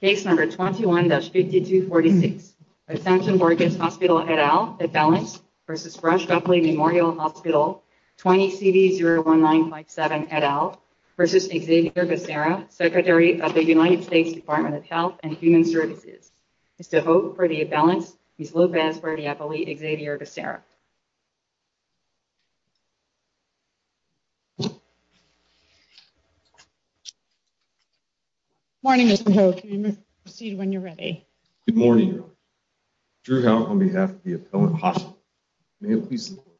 Case No. 21-5246, Ascension Borgess Hospital et al., Imbalance v. Rush Guffley Memorial Hospital, 20-CD-01957 et al. v. Xavier Becerra, Secretary of the United States Department of Health and Human Services, is to vote for the Imbalance, Ms. Lopez-Radiapoli, Xavier Becerra. Morning, Mr. Hogue. You may proceed when you're ready. Good morning, Your Honor. Drew Howe on behalf of the appellant hospital. May it please the Court.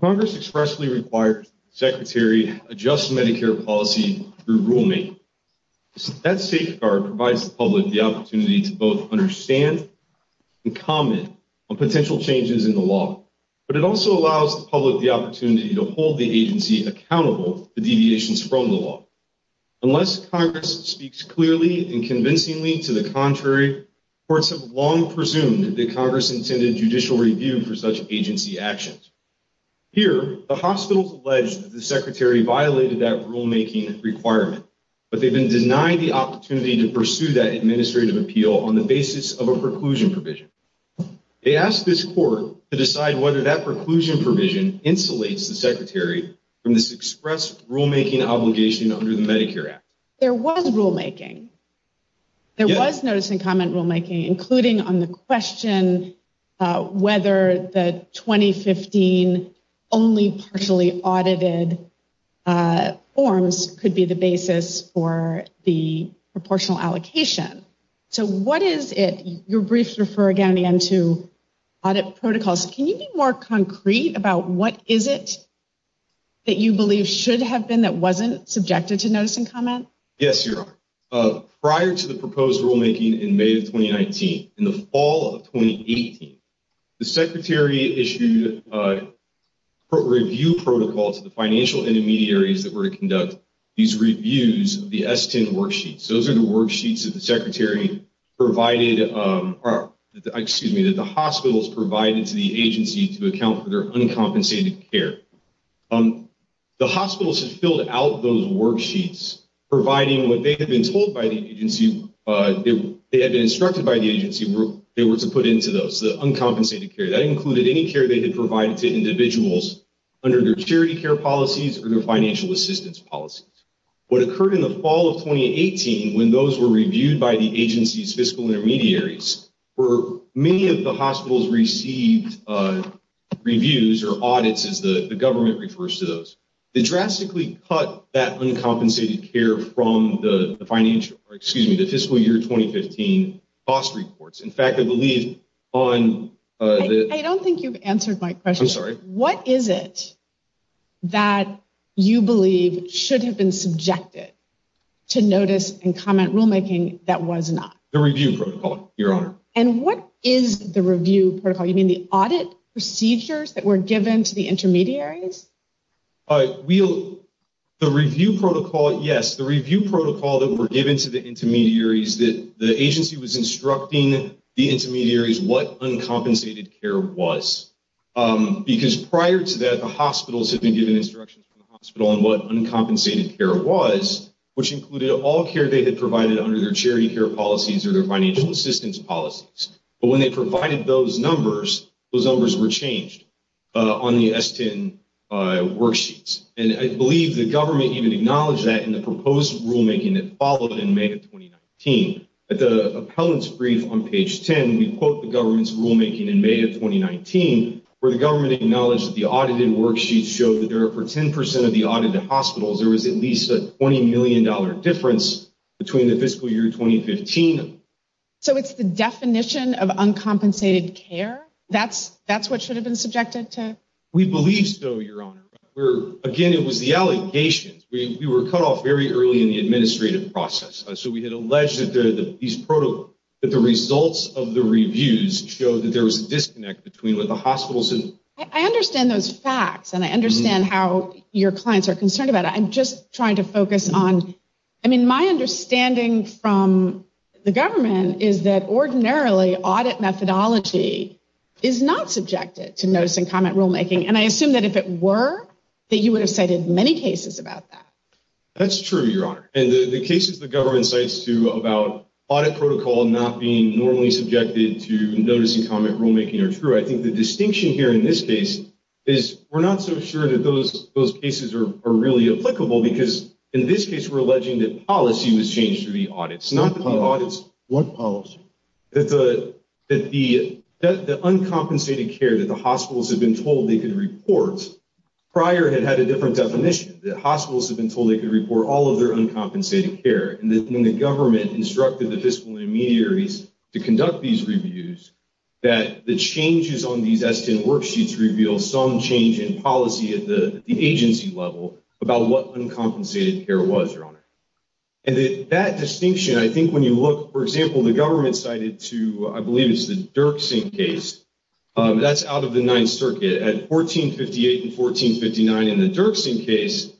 Congress expressly requires the Secretary adjust Medicare policy through rulemaking. That safeguard provides the public the opportunity to both understand and comment on potential changes in the law, but it also allows the public the opportunity to hold the agency accountable for deviations from the law. Unless Congress speaks clearly and convincingly to the contrary, courts have long presumed that Congress intended judicial review for such agency actions. Here, the hospitals allege that the Secretary violated that rulemaking requirement, but they've been denied the opportunity to pursue that administrative appeal on the basis of a preclusion provision. They ask this Court to decide whether that preclusion provision insulates the Secretary from this express rulemaking obligation under the Medicare Act. There was rulemaking. There was notice and comment rulemaking, including on the question whether the 2015 only partially audited forms could be the basis for the proportional allocation. So what is it? Your briefs refer again to audit protocols. Can you be more concrete about what is it that you believe should have been that wasn't subjected to notice and comment? Yes, Your Honor. Prior to the proposed rulemaking in May of 2019, in the fall of 2018, the Secretary issued a review protocol to the financial intermediaries that were to conduct these reviews of the S-10 worksheets. Those are the worksheets that the Secretary provided, or excuse me, that the hospitals provided to the agency to account for their uncompensated care. The hospitals had filled out those worksheets, providing what they had been told by the agency, they had been instructed by the agency, they were to put into those, the uncompensated care. That included any care they had provided to individuals under their charity care policies or their financial assistance policies. What occurred in the fall of 2018, when those were reviewed by the agency's fiscal intermediaries, for many of the hospitals received reviews or audits, as the government refers to those, they drastically cut that uncompensated care from the fiscal year 2015 cost reports. I don't think you've answered my question. I'm sorry. What is it that you believe should have been subjected to notice and comment rulemaking that was not? The review protocol, Your Honor. And what is the review protocol? You mean the audit procedures that were given to the intermediaries? The review protocol, yes, the review protocol that were given to the intermediaries that the agency was instructing the intermediaries what uncompensated care was. Because prior to that, the hospitals had been given instructions from the hospital on what uncompensated care was, which included all care they had provided under their charity care policies or their financial assistance policies. But when they provided those numbers, those numbers were changed on the S-10 worksheets. And I believe the government even acknowledged that in the proposed rulemaking that followed in May of 2019. At the appellant's brief on page 10, we quote the government's rulemaking in May of 2019, where the government acknowledged that the audited worksheets showed that for 10 percent of the audited hospitals, there was at least a $20 million difference between the fiscal year 2015. So it's the definition of uncompensated care? That's what should have been subjected to? We believe so, Your Honor. Again, it was the allegations. We were cut off very early in the administrative process. So we had alleged that these protocols, that the results of the reviews show that there was a disconnect between what the hospitals. I understand those facts and I understand how your clients are concerned about it. I'm just trying to focus on, I mean, my understanding from the government is that ordinarily audit methodology is not subjected to notice and comment rulemaking. And I assume that if it were, that you would have cited many cases about that. That's true, Your Honor. And the cases the government cites to about audit protocol not being normally subjected to notice and comment rulemaking are true. I think the distinction here in this case is we're not so sure that those cases are really applicable because in this case, we're alleging that policy was changed through the audits, not the audits. What policy? That the uncompensated care that the hospitals have been told they could report prior had had a different definition. The hospitals have been told they could report all of their uncompensated care. And then the government instructed the fiscal intermediaries to conduct these reviews that the changes on these S-10 worksheets reveal some change in policy at the agency level about what uncompensated care was, Your Honor. And that distinction, I think when you look, for example, the government cited to, I believe it's the Dirksen case. That's out of the Ninth Circuit at 1458 and 1459 in the Dirksen case.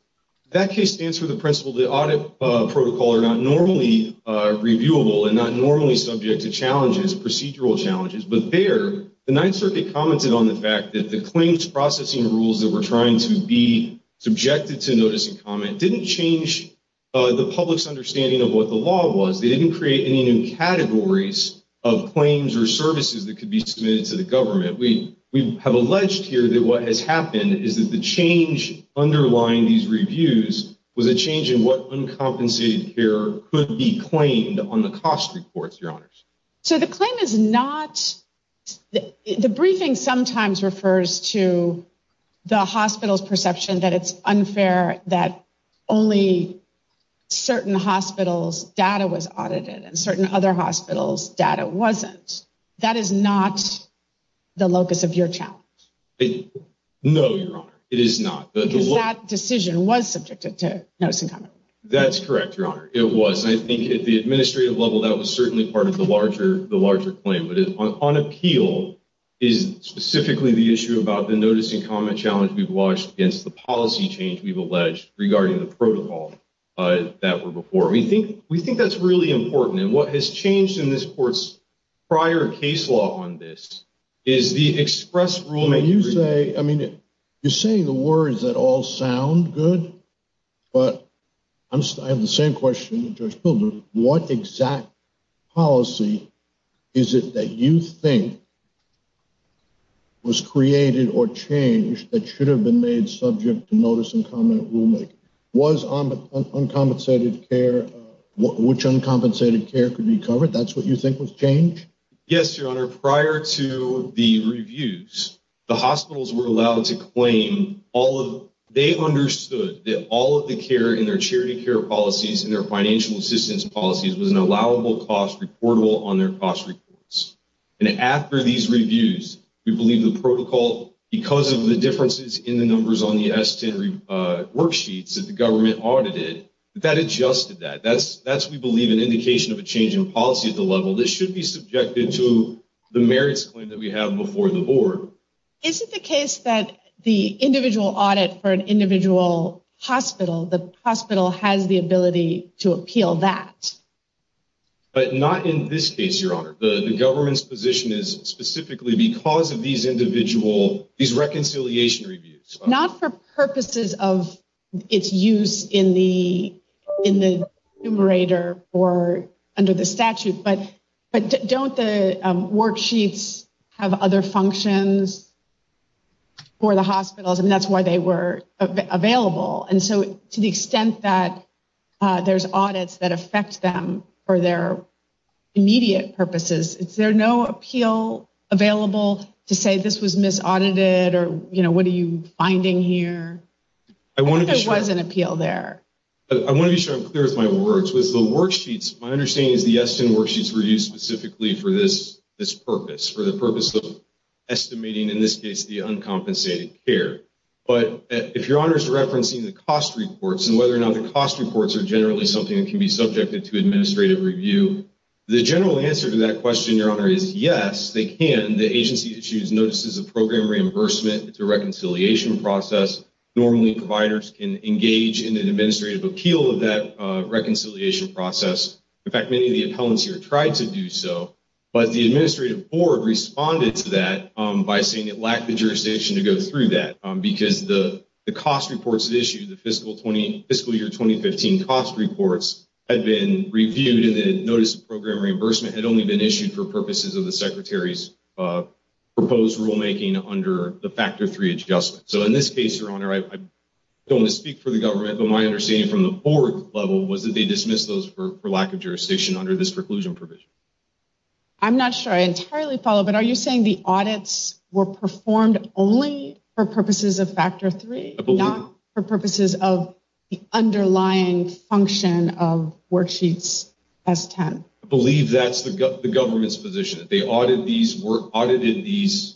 That case stands for the principle that audit protocol are not normally reviewable and not normally subject to challenges, procedural challenges. But there, the Ninth Circuit commented on the fact that the claims processing rules that were trying to be subjected to notice and comment didn't change the public's understanding of what the law was. They didn't create any new categories of claims or services that could be submitted to the government. We have alleged here that what has happened is that the change underlying these reviews was a change in what uncompensated care could be claimed on the cost reports, Your Honors. So the claim is not, the briefing sometimes refers to the hospital's perception that it's unfair that only certain hospitals' data was audited and certain other hospitals' data wasn't. That is not the locus of your challenge. No, Your Honor, it is not. Because that decision was subjected to notice and comment. That's correct, Your Honor. It was. I think at the administrative level, that was certainly part of the larger claim. But on appeal is specifically the issue about the notice and comment challenge we've watched against the policy change we've alleged regarding the protocol that were before. We think that's really important. And what has changed in this court's prior case law on this is the express rulemaking. When you say, I mean, you're saying the words that all sound good, but I have the same question to Judge Pilgrim. What exact policy is it that you think was created or changed that should have been made subject to notice and comment rulemaking? Was uncompensated care, which uncompensated care could be covered? That's what you think was changed? Yes, Your Honor. Your Honor, prior to the reviews, the hospitals were allowed to claim all of, they understood that all of the care in their charity care policies and their financial assistance policies was an allowable cost reportable on their cost reports. And after these reviews, we believe the protocol, because of the differences in the numbers on the S10 worksheets that the government audited, that adjusted that. That's, we believe, an indication of a change in policy at the level. This should be subjected to the merits claim that we have before the board. Is it the case that the individual audit for an individual hospital, the hospital has the ability to appeal that? But not in this case, Your Honor. The government's position is specifically because of these individual, these reconciliation reviews. Not for purposes of its use in the numerator or under the statute, but don't the worksheets have other functions for the hospitals? And that's why they were available. And so to the extent that there's audits that affect them for their immediate purposes, is there no appeal available to say this was misaudited or, you know, what are you finding here? I think there was an appeal there. I want to be sure I'm clear with my words. With the worksheets, my understanding is the S10 worksheets were used specifically for this purpose, for the purpose of estimating, in this case, the uncompensated care. But if Your Honor is referencing the cost reports and whether or not the cost reports are generally something that can be subjected to administrative review, the general answer to that question, Your Honor, is yes, they can. The agency issues notices of program reimbursement. It's a reconciliation process. Normally providers can engage in an administrative appeal of that reconciliation process. In fact, many of the appellants here tried to do so. But the administrative board responded to that by saying it lacked the jurisdiction to go through that because the cost reports issued, the fiscal year 2015 cost reports, had been reviewed and the notice of program reimbursement had only been issued for purposes of the Secretary's proposed rulemaking under the Factor III adjustment. So in this case, Your Honor, I don't want to speak for the government, but my understanding from the board level was that they dismissed those for lack of jurisdiction under this preclusion provision. I'm not sure I entirely follow, but are you saying the audits were performed only for purposes of Factor III, not for purposes of the underlying function of worksheets S10? I believe that's the government's position, that they audited these worksheets,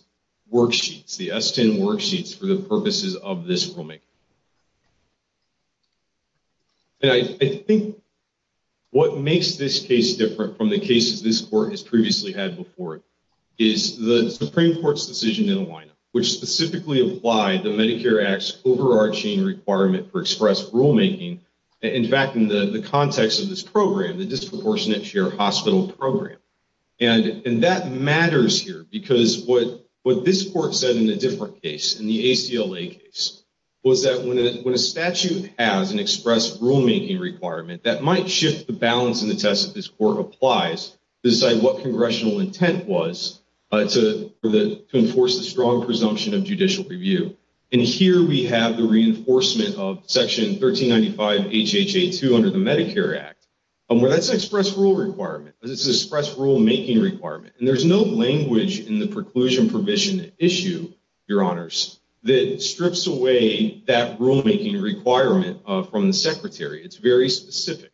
the S10 worksheets, for the purposes of this rulemaking. And I think what makes this case different from the cases this court has previously had before it is the Supreme Court's decision in the lineup, which specifically applied the Medicare Act's overarching requirement for express rulemaking. In fact, in the context of this program, the disproportionate share hospital program. And that matters here because what this court said in a different case, in the ACLA case, was that when a statute has an express rulemaking requirement, that might shift the balance in the test that this court applies to decide what congressional intent was to enforce the strong presumption of judicial review. And here we have the reinforcement of Section 1395 HHA2 under the Medicare Act. That's an express rule requirement. This is an express rulemaking requirement. And there's no language in the preclusion provision issue, Your Honors, that strips away that rulemaking requirement from the Secretary. It's very specific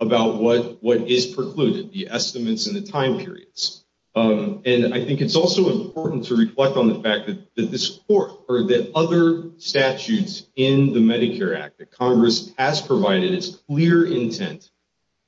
about what is precluded, the estimates and the time periods. And I think it's also important to reflect on the fact that this court or the other statutes in the Medicare Act that Congress has provided its clear intent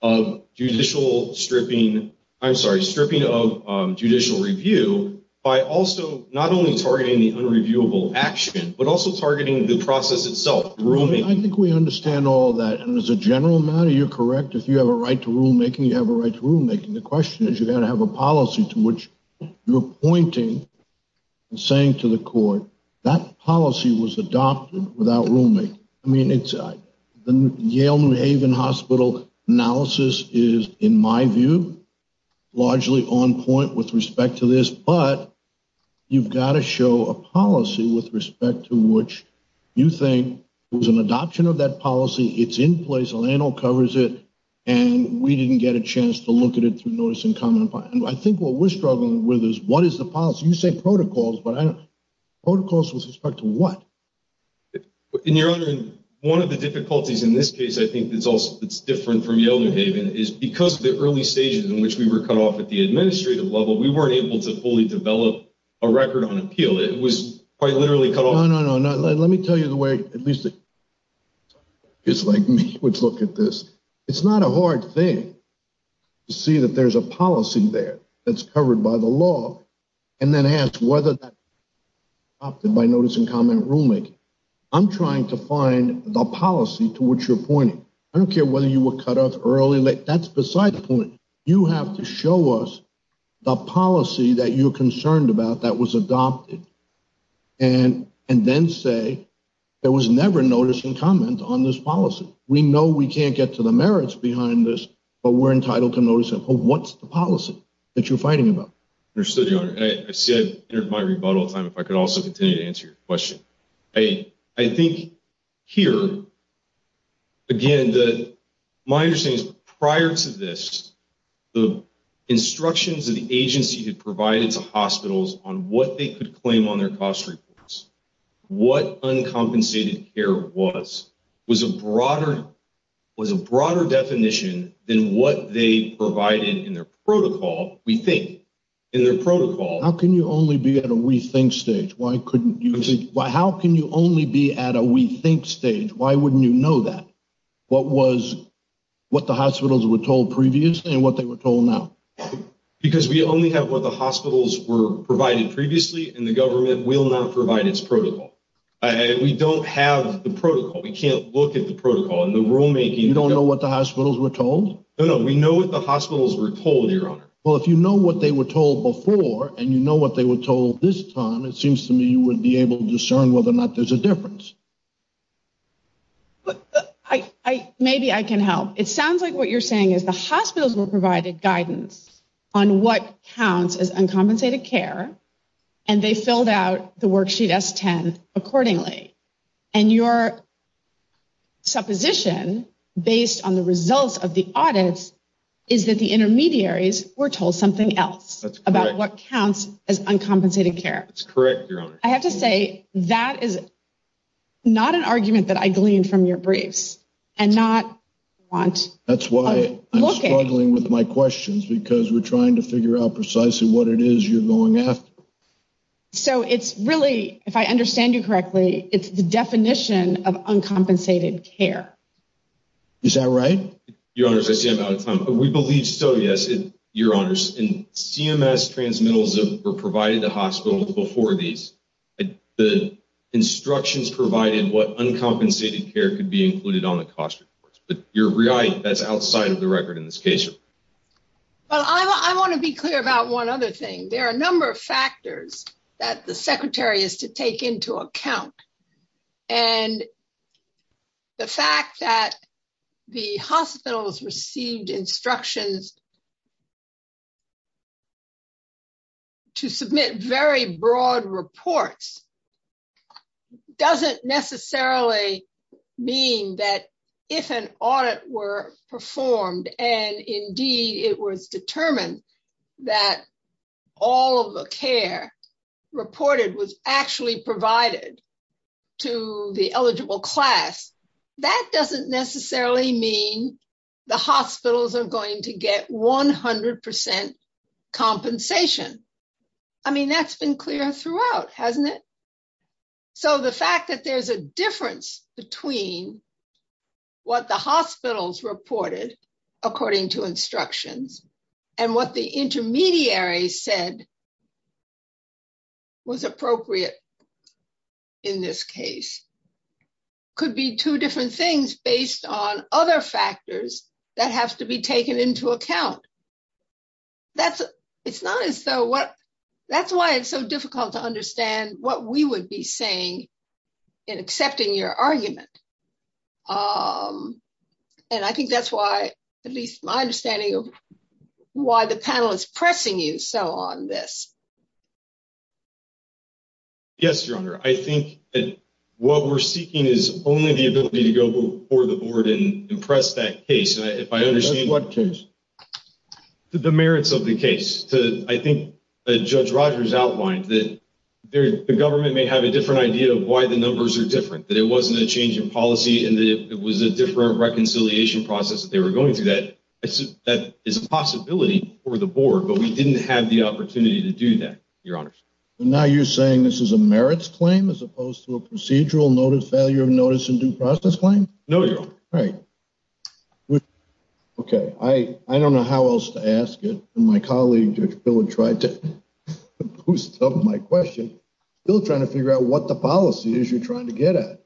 of judicial stripping. I'm sorry, stripping of judicial review by also not only targeting the unreviewable action, but also targeting the process itself. I think we understand all that. And as a general matter, you're correct. If you have a right to rulemaking, you have a right to rulemaking. The question is, you've got to have a policy to which you're pointing and saying to the court, that policy was adopted without rulemaking. I mean, the Yale New Haven Hospital analysis is, in my view, largely on point with respect to this. But you've got to show a policy with respect to which you think it was an adoption of that policy. It's in place. LANL covers it. And we didn't get a chance to look at it through notice and comment. I think what we're struggling with is what is the policy? You say protocols, but protocols with respect to what? In your honor, one of the difficulties in this case, I think it's also it's different from Yale New Haven is because of the early stages in which we were cut off at the administrative level. We weren't able to fully develop a record on appeal. It was quite literally cut off. No, no, no. Let me tell you the way at least. It's like me would look at this. It's not a hard thing to see that there's a policy there that's covered by the law. And then ask whether that opted by notice and comment rulemaking. I'm trying to find the policy to which you're pointing. I don't care whether you were cut off early. That's beside the point. You have to show us the policy that you're concerned about that was adopted. And and then say there was never notice and comment on this policy. We know we can't get to the merits behind this, but we're entitled to notice. And what's the policy that you're fighting about? I said my rebuttal time, if I could also continue to answer your question. I think here. Again, my understanding is prior to this, the instructions of the agency had provided to hospitals on what they could claim on their cost reports. What uncompensated care was was a broader was a broader definition than what they provided in their protocol. We think in their protocol. How can you only be at a rethink stage? Why couldn't you? How can you only be at a rethink stage? Why wouldn't you know that? What was what the hospitals were told previously and what they were told now? Because we only have what the hospitals were provided previously and the government will not provide its protocol. We don't have the protocol. We can't look at the protocol and the rulemaking. You don't know what the hospitals were told? No, no. We know what the hospitals were told. Well, if you know what they were told before and you know what they were told this time, it seems to me you would be able to discern whether or not there's a difference. But I maybe I can help. It sounds like what you're saying is the hospitals were provided guidance on what counts as uncompensated care. And they filled out the worksheet as 10 accordingly. And your supposition based on the results of the audits is that the intermediaries were told something else about what counts as uncompensated care. That's correct. I have to say that is not an argument that I gleaned from your briefs and not want. That's why I'm struggling with my questions because we're trying to figure out precisely what it is you're going after. So it's really, if I understand you correctly, it's the definition of uncompensated care. Is that right? Your Honor, I see I'm out of time. We believe so. Yes, Your Honor. And CMS transmittals were provided to hospitals before these. The instructions provided what uncompensated care could be included on the cost reports. But you're right. That's outside of the record in this case. Well, I want to be clear about one other thing. There are a number of factors that the Secretary is to take into account. And the fact that the hospitals received instructions to submit very broad reports doesn't necessarily mean that if an audit were performed and indeed it was determined that all of the care reported was actually provided. To the eligible class. That doesn't necessarily mean the hospitals are going to get 100% compensation. I mean, that's been clear throughout, hasn't it? So the fact that there's a difference between what the hospitals reported, according to instructions, and what the intermediary said was appropriate. In this case, could be two different things based on other factors that have to be taken into account. That's why it's so difficult to understand what we would be saying in accepting your argument. And I think that's why, at least my understanding of why the panel is pressing you so on this. Yes, Your Honor. I think that what we're seeking is only the ability to go before the board and impress that case. What case? The merits of the case. I think Judge Rogers outlined that the government may have a different idea of why the numbers are different. That it wasn't a change in policy and that it was a different reconciliation process that they were going through. That is a possibility for the board, but we didn't have the opportunity to do that, Your Honor. Now you're saying this is a merits claim as opposed to a procedural noted failure of notice and due process claim? No, Your Honor. Right. Okay. I don't know how else to ask it. My colleague, Judge Bill, tried to boost up my question. Bill's trying to figure out what the policy is you're trying to get at.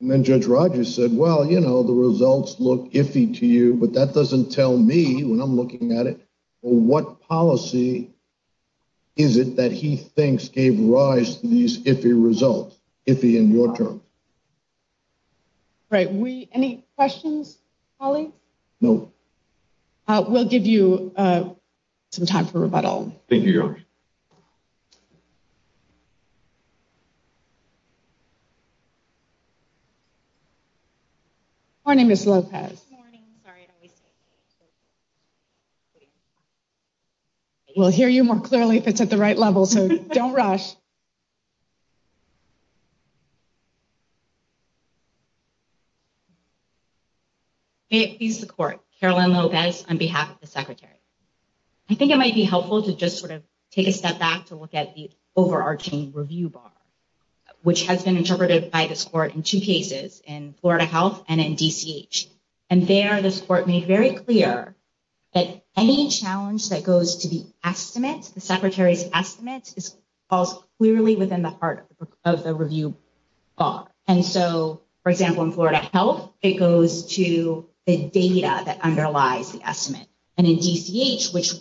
And then Judge Rogers said, well, you know, the results look iffy to you, but that doesn't tell me, when I'm looking at it, what policy is it that he thinks gave rise to these iffy results? Iffy in your terms. Great. Any questions, colleagues? No. We'll give you some time for rebuttal. Thank you, Your Honor. Good morning, Ms. Lopez. Good morning. We'll hear you more clearly if it's at the right level, so don't rush. May it please the Court, Caroline Lopez on behalf of the Secretary. I think it might be helpful to just sort of take a step back to look at the overarching review bar, which has been interpreted by this Court in two cases, in Florida Health and in DCH. And there, this Court made very clear that any challenge that goes to the estimate, the Secretary's estimate, falls clearly within the heart of the review bar. And so, for example, in Florida Health, it goes to the data that underlies the estimate. And in DCH, which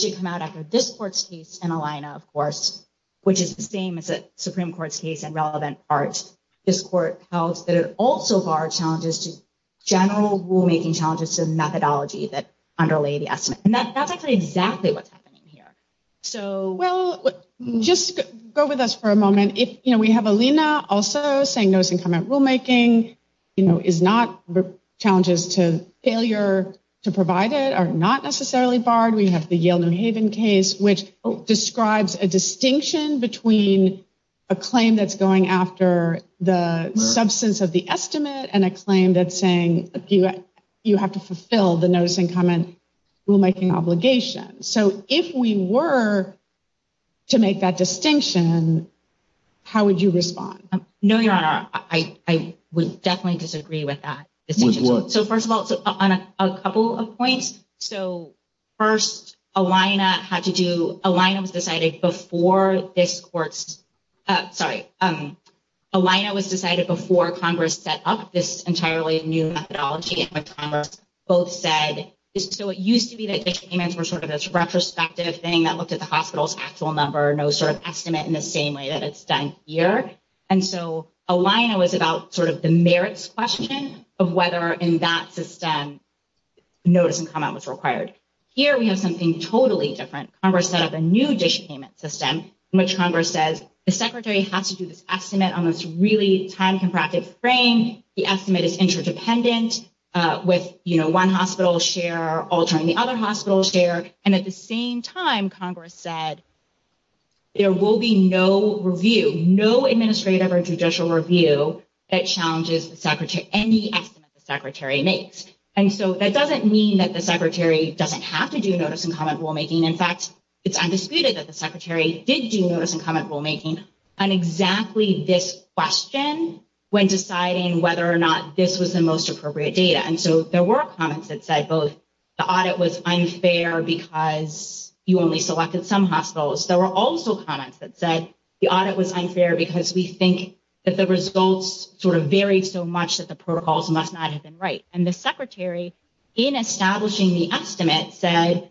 did come out after this Court's case in Alina, of course, which is the same as the Supreme Court's case in relevant parts, this Court held that it also barred challenges to general rulemaking challenges to the methodology that underlay the estimate. And that's actually exactly what's happening here. Well, just go with us for a moment. You know, we have Alina also saying notice and comment rulemaking, you know, is not challenges to failure to provide it are not necessarily barred. We have the Yale New Haven case, which describes a distinction between a claim that's going after the substance of the estimate and a claim that's saying you have to fulfill the notice and comment rulemaking obligation. So if we were to make that distinction, how would you respond? No, Your Honor, I would definitely disagree with that. With what? So first of all, on a couple of points. So first, Alina had to do, Alina was decided before this Court's, sorry, Alina was decided before Congress set up this entirely new methodology, which Congress both said is, so it used to be that payments were sort of this retrospective thing that looked at the hospital's actual number, no sort of estimate in the same way that it's done here. And so Alina was about sort of the merits question of whether in that system, notice and comment was required. Here we have something totally different. Congress set up a new dish payment system, which Congress says the secretary has to do this estimate on this really time compacted frame. The estimate is interdependent with one hospital's share altering the other hospital's share. And at the same time, Congress said there will be no review, no administrative or judicial review that challenges any estimate the secretary makes. And so that doesn't mean that the secretary doesn't have to do notice and comment rulemaking. In fact, it's undisputed that the secretary did do notice and comment rulemaking on exactly this question when deciding whether or not this was the most appropriate data. And so there were comments that said both the audit was unfair because you only selected some hospitals. There were also comments that said the audit was unfair because we think that the results sort of varied so much that the protocols must not have been right. And the secretary in establishing the estimate said,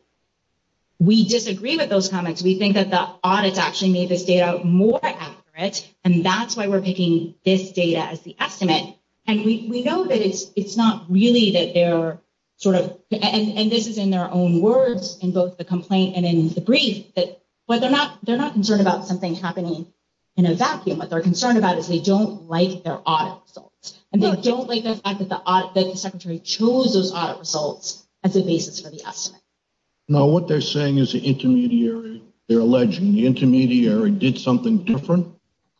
we disagree with those comments. We think that the audits actually made this data more accurate. And that's why we're picking this data as the estimate. And we know that it's not really that they're sort of, and this is in their own words, in both the complaint and in the brief, that they're not concerned about something happening in a vacuum. What they're concerned about is they don't like their audit results. And they don't like the fact that the secretary chose those audit results as a basis for the estimate. Now, what they're saying is the intermediary, they're alleging the intermediary did something different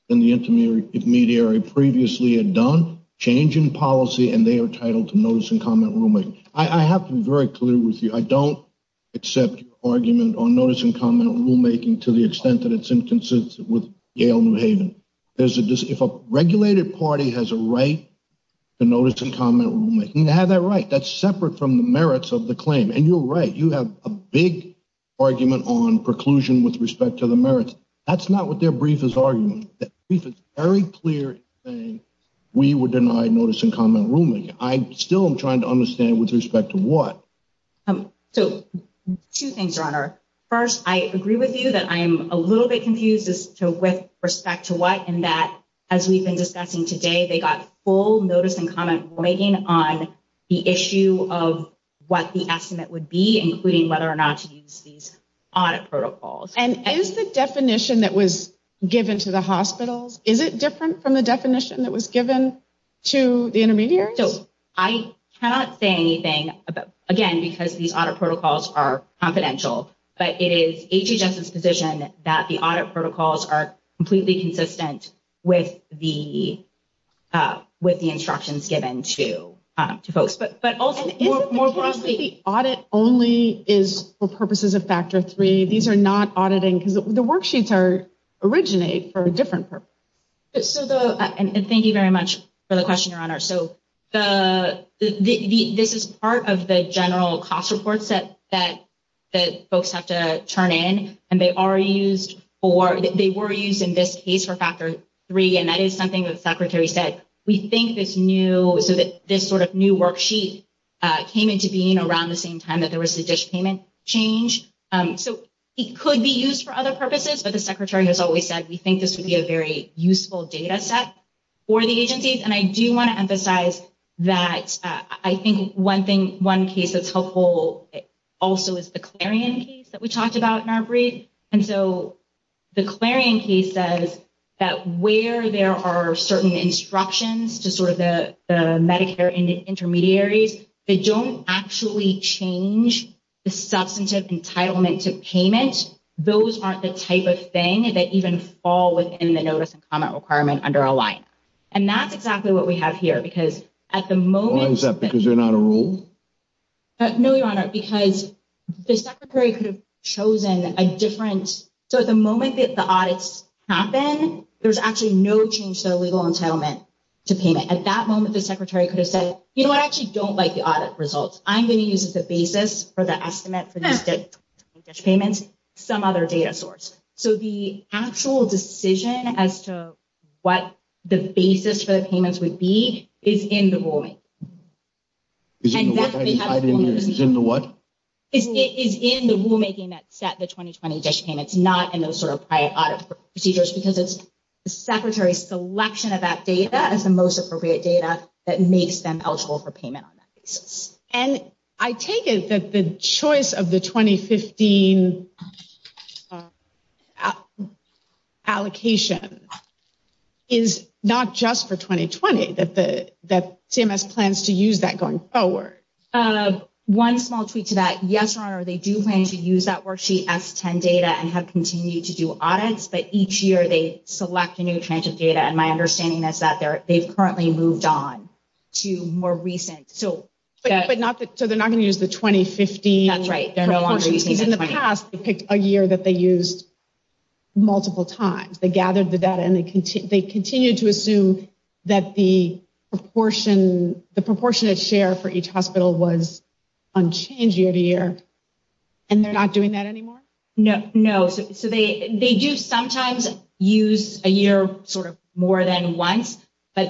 than the intermediary previously had done. Change in policy, and they are titled to notice and comment rulemaking. I have to be very clear with you. I don't accept your argument on notice and comment rulemaking to the extent that it's inconsistent with Yale New Haven. If a regulated party has a right to notice and comment rulemaking, they have that right. That's separate from the merits of the claim. And you're right. You have a big argument on preclusion with respect to the merits. That's not what their brief is arguing. That brief is very clear in saying we were denied notice and comment rulemaking. I still am trying to understand with respect to what. So, two things, Your Honor. First, I agree with you that I'm a little bit confused as to with respect to what. And that, as we've been discussing today, they got full notice and comment rulemaking on the issue of what the estimate would be, including whether or not to use these audit protocols. And is the definition that was given to the hospitals, is it different from the definition that was given to the intermediaries? So, I cannot say anything, again, because these audit protocols are confidential. But it is HHS's position that the audit protocols are completely consistent with the instructions given to folks. But also, more broadly. The audit only is for purposes of factor three. These are not auditing because the worksheets originate for a different purpose. So, thank you very much for the question, Your Honor. So, this is part of the general cost reports that folks have to turn in. And they are used for, they were used in this case for factor three. And that is something that the Secretary said. We think this new, so that this sort of new worksheet came into being around the same time that there was the dish payment change. So, it could be used for other purposes. But the Secretary has always said we think this would be a very useful data set for the agencies. And I do want to emphasize that I think one thing, one case that's helpful also is the Clarion case that we talked about in our brief. And so, the Clarion case says that where there are certain instructions to sort of the Medicare intermediaries, they don't actually change the substantive entitlement to payment. Those aren't the type of thing that even fall within the notice and comment requirement under a line. And that's exactly what we have here. Because at the moment. Why is that? Because they're not a rule? No, Your Honor. Because the Secretary could have chosen a different. So, at the moment that the audits happen, there's actually no change to the legal entitlement to payment. At that moment, the Secretary could have said, you know what, I actually don't like the audit results. I'm going to use as a basis for the estimate for this dish payment some other data source. So, the actual decision as to what the basis for the payments would be is in the rulemaking. Is in the what? It is in the rulemaking that set the 2020 dish payments, not in those sort of prior audit procedures. Because it's the Secretary's selection of that data as the most appropriate data that makes them eligible for payment on that basis. And I take it that the choice of the 2015 allocation is not just for 2020, that CMS plans to use that going forward. One small tweak to that. Yes, Your Honor, they do plan to use that worksheet S10 data and have continued to do audits. But each year they select a new tranche of data. And my understanding is that they've currently moved on to more recent. So, they're not going to use the 2015? That's right. Because in the past, they picked a year that they used multiple times. They gathered the data and they continued to assume that the proportionate share for each hospital was unchanged year to year. And they're not doing that anymore? No. So, they do sometimes use a year sort of more than once. But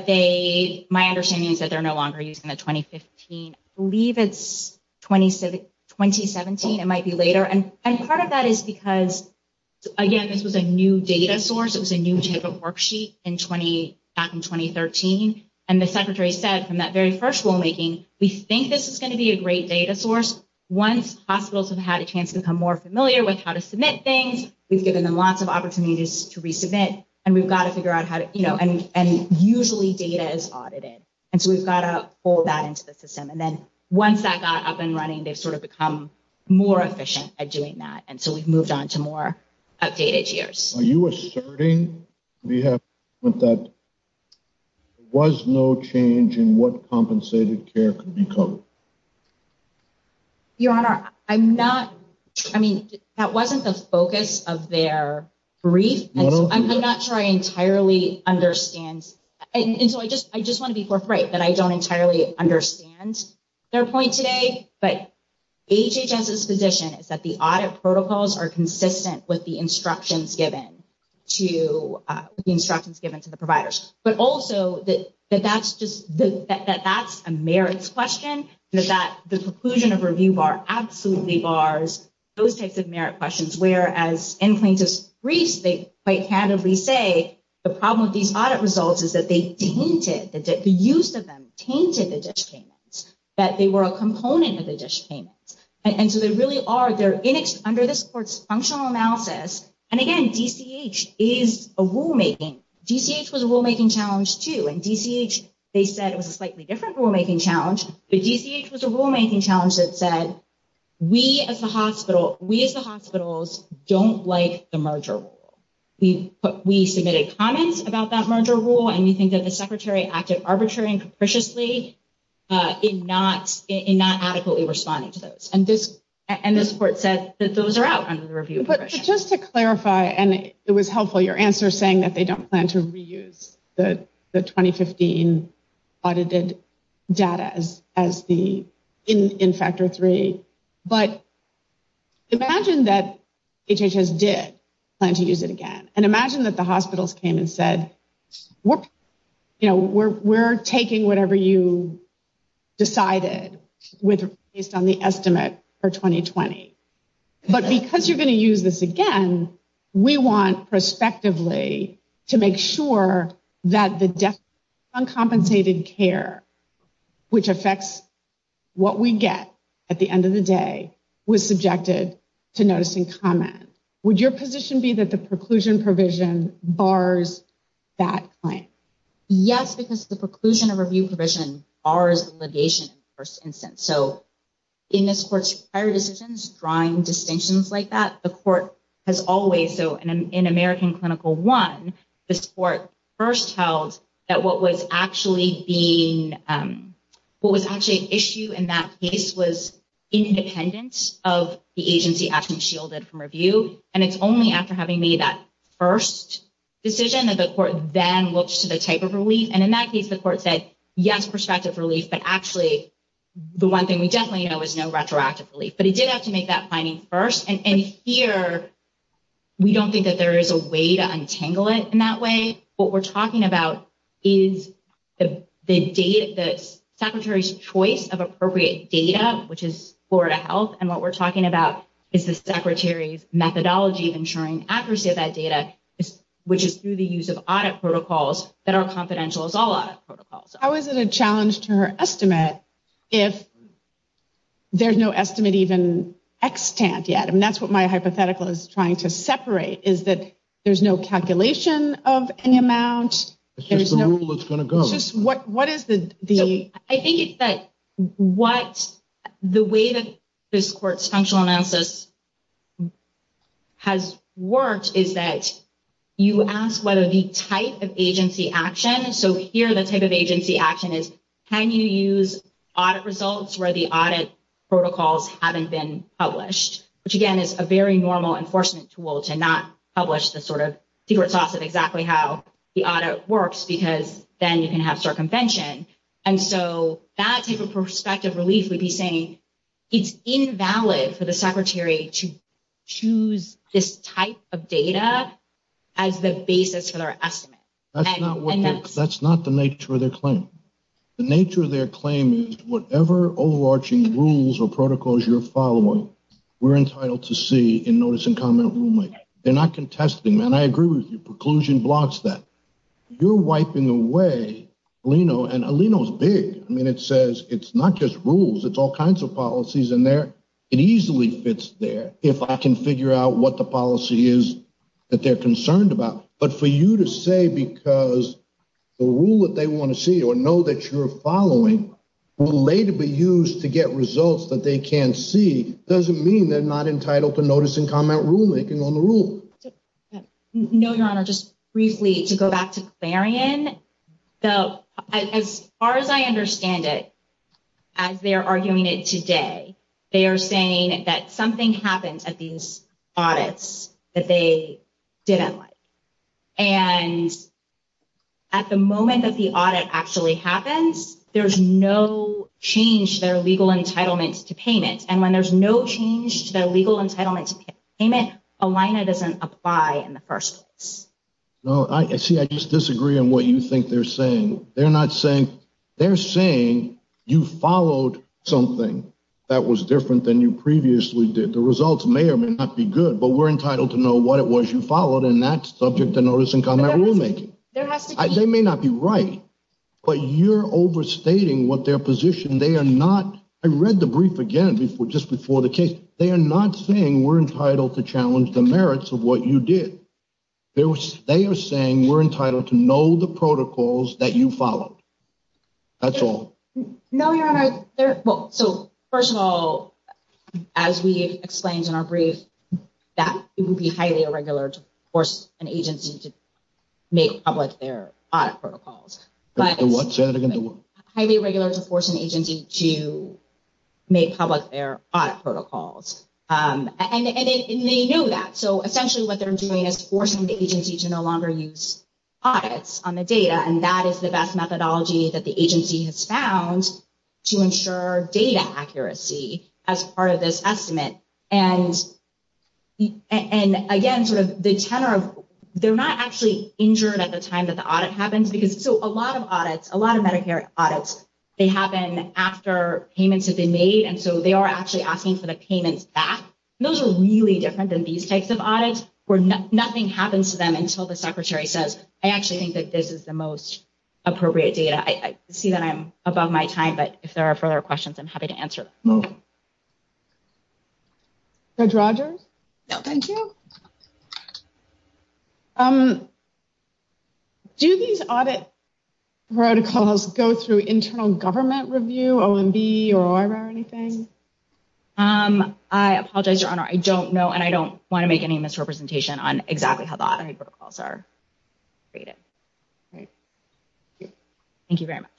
my understanding is that they're no longer using the 2015. I believe it's 2017. It might be later. And part of that is because, again, this was a new data source. It was a new type of worksheet back in 2013. And the Secretary said from that very first rulemaking, we think this is going to be a great data source. Once hospitals have had a chance to become more familiar with how to submit things, we've given them lots of opportunities to resubmit. And we've got to figure out how to, you know, and usually data is audited. And so, we've got to pull that into the system. And then once that got up and running, they've sort of become more efficient at doing that. And so, we've moved on to more updated years. Are you asserting that there was no change in what compensated care could be covered? Your Honor, I'm not. I mean, that wasn't the focus of their brief. I'm not sure I entirely understand. And so, I just want to be forthright that I don't entirely understand their point today. But HHS's position is that the audit protocols are consistent with the instructions given to the providers. But also, that that's a merits question. The conclusion of review bar absolutely bars those types of merit questions. Whereas in plaintiff's briefs, they quite candidly say the problem with these audit results is that they tainted, the use of them tainted the dish payments, that they were a component of the dish payments. And so, they really are, they're under this court's functional analysis. And again, DCH is a rulemaking. DCH was a rulemaking challenge too. And DCH, they said it was a slightly different rulemaking challenge. But DCH was a rulemaking challenge that said, we as the hospital, we as the hospitals don't like the merger rule. We submitted comments about that merger rule. And we think that the secretary acted arbitrarily and capriciously in not adequately responding to those. And this court said that those are out under the review provision. But just to clarify, and it was helpful, your answer saying that they don't plan to reuse the 2015 audited data as the, in factor three. But imagine that HHS did plan to use it again. And imagine that the hospitals came and said, you know, we're taking whatever you decided based on the estimate for 2020. But because you're going to use this again, we want prospectively to make sure that the uncompensated care, which affects what we get at the end of the day, was subjected to noticing comment. Would your position be that the preclusion provision bars that claim? Yes, because the preclusion of review provision bars litigation in the first instance. So in this court's prior decisions, drawing distinctions like that, the court has always, so in American Clinical One, this court first held that what was actually an issue in that case was independence of the agency action shielded from review. And it's only after having made that first decision that the court then looks to the type of relief. And in that case, the court said, yes, prospective relief. But actually, the one thing we definitely know is no retroactive relief. But it did have to make that finding first. And here, we don't think that there is a way to untangle it in that way. What we're talking about is the secretary's choice of appropriate data, which is Florida Health. And what we're talking about is the secretary's methodology of ensuring accuracy of that data, which is through the use of audit protocols that are confidential as all audit protocols. How is it a challenge to her estimate if there's no estimate even extant yet? I mean, that's what my hypothetical is trying to separate, is that there's no calculation of any amount. It's just the rule that's going to go. It's just what is the ‑‑ I think it's that what the way that this court's functional analysis has worked is that you ask whether the type of agency action, so here the type of agency action is can you use audit results where the audit protocols haven't been published, which, again, is a very normal enforcement tool to not publish the sort of secret sauce of exactly how the audit works, because then you can have circumvention. And so that type of prospective relief would be saying it's invalid for the secretary to choose this type of data as the basis for their estimate. That's not the nature of their claim. The nature of their claim is whatever overarching rules or protocols you're following, we're entitled to see in notice and comment rulemaking. They're not contesting, man. I agree with you. Preclusion blocks that. You're wiping away Alino, and Alino's big. I mean, it says it's not just rules. It's all kinds of policies in there. It easily fits there if I can figure out what the policy is that they're concerned about. But for you to say because the rule that they want to see or know that you're following will later be used to get results that they can't see, doesn't mean they're not entitled to notice and comment rulemaking on the rule. No, Your Honor. Just briefly, to go back to Clarion, as far as I understand it, as they're arguing it today, they are saying that something happened at these audits that they didn't like. And at the moment that the audit actually happens, there's no change to their legal entitlement to payment. And when there's no change to their legal entitlement to payment, Alino doesn't apply in the first place. No. See, I just disagree on what you think they're saying. They're not saying you followed something that was different than you previously did. The results may or may not be good, but we're entitled to know what it was you followed, and that's subject to notice and comment rulemaking. They may not be right, but you're overstating what their position. They are not. I read the brief again just before the case. They are not saying we're entitled to challenge the merits of what you did. They are saying we're entitled to know the protocols that you followed. That's all. No, Your Honor. So, first of all, as we explained in our brief, that would be highly irregular to force an agency to make public their audit protocols. Say that again. Highly irregular to force an agency to make public their audit protocols. And they knew that. So, essentially what they're doing is forcing the agency to no longer use audits on the data, and that is the best methodology that the agency has found to ensure data accuracy as part of this estimate. And, again, sort of the tenor of they're not actually injured at the time that the audit happens. So, a lot of audits, a lot of Medicare audits, they happen after payments have been made, and so they are actually asking for the payments back. Those are really different than these types of audits where nothing happens to them until the secretary says, I actually think that this is the most appropriate data. I see that I'm above my time, but if there are further questions, I'm happy to answer them. Judge Rogers? No, thank you. Do these audit protocols go through internal government review, OMB, or OIRA or anything? I apologize, Your Honor. I don't know, and I don't want to make any misrepresentation on exactly how the audit protocols are rated. Great. Thank you very much.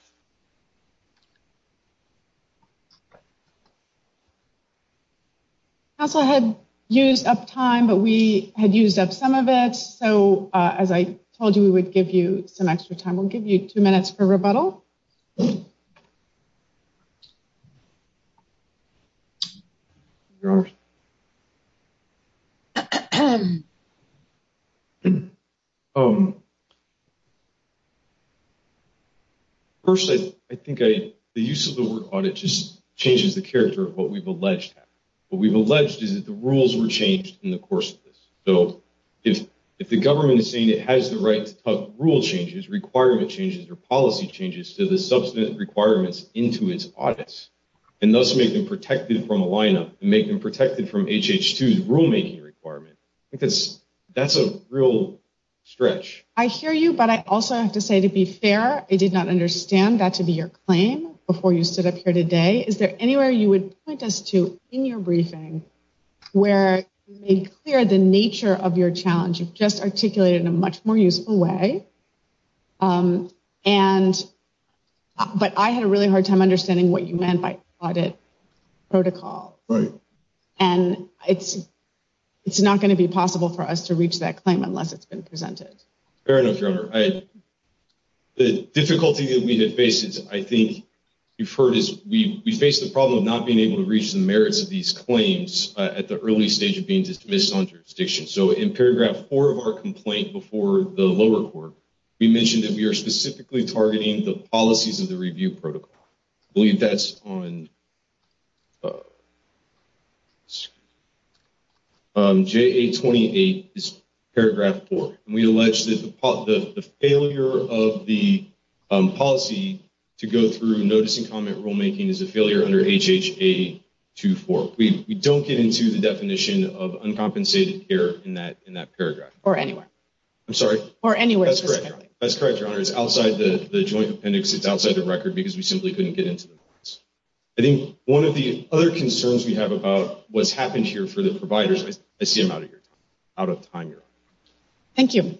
Council had used up time, but we had used up some of it. So, as I told you, we would give you some extra time. We'll give you two minutes for rebuttal. First, I think the use of the word audit just changes the character of what we've alleged. What we've alleged is that the rules were changed in the course of this. So, if the government is saying it has the right to have rule changes, requirement changes, or policy changes to the substantive requirements into its audits and thus make them protected from a lineup and make them protected from HH2's rulemaking requirement, I think that's a real stretch. I hear you, but I also have to say, to be fair, I did not understand that to be your claim before you stood up here today. Is there anywhere you would point us to in your briefing where you made clear the nature of your challenge? You've just articulated it in a much more useful way, but I had a really hard time understanding what you meant by audit protocol. Right. And it's not going to be possible for us to reach that claim unless it's been presented. Fair enough, Your Honor. The difficulty that we have faced, I think you've heard, is we face the problem of not being able to reach the merits of these claims at the early stage of being dismissed on jurisdiction. So, in paragraph four of our complaint before the lower court, we mentioned that we are specifically targeting the policies of the review protocol. I believe that's on JA28, paragraph four. And we allege that the failure of the policy to go through notice and comment rulemaking is a failure under HHA24. We don't get into the definition of uncompensated care in that paragraph. Or anywhere. I'm sorry? Or anywhere specifically. That's correct, Your Honor. It's outside the joint appendix. It's outside the record because we simply couldn't get into the balance. I think one of the other concerns we have about what's happened here for the providers, I see I'm out of time. Thank you.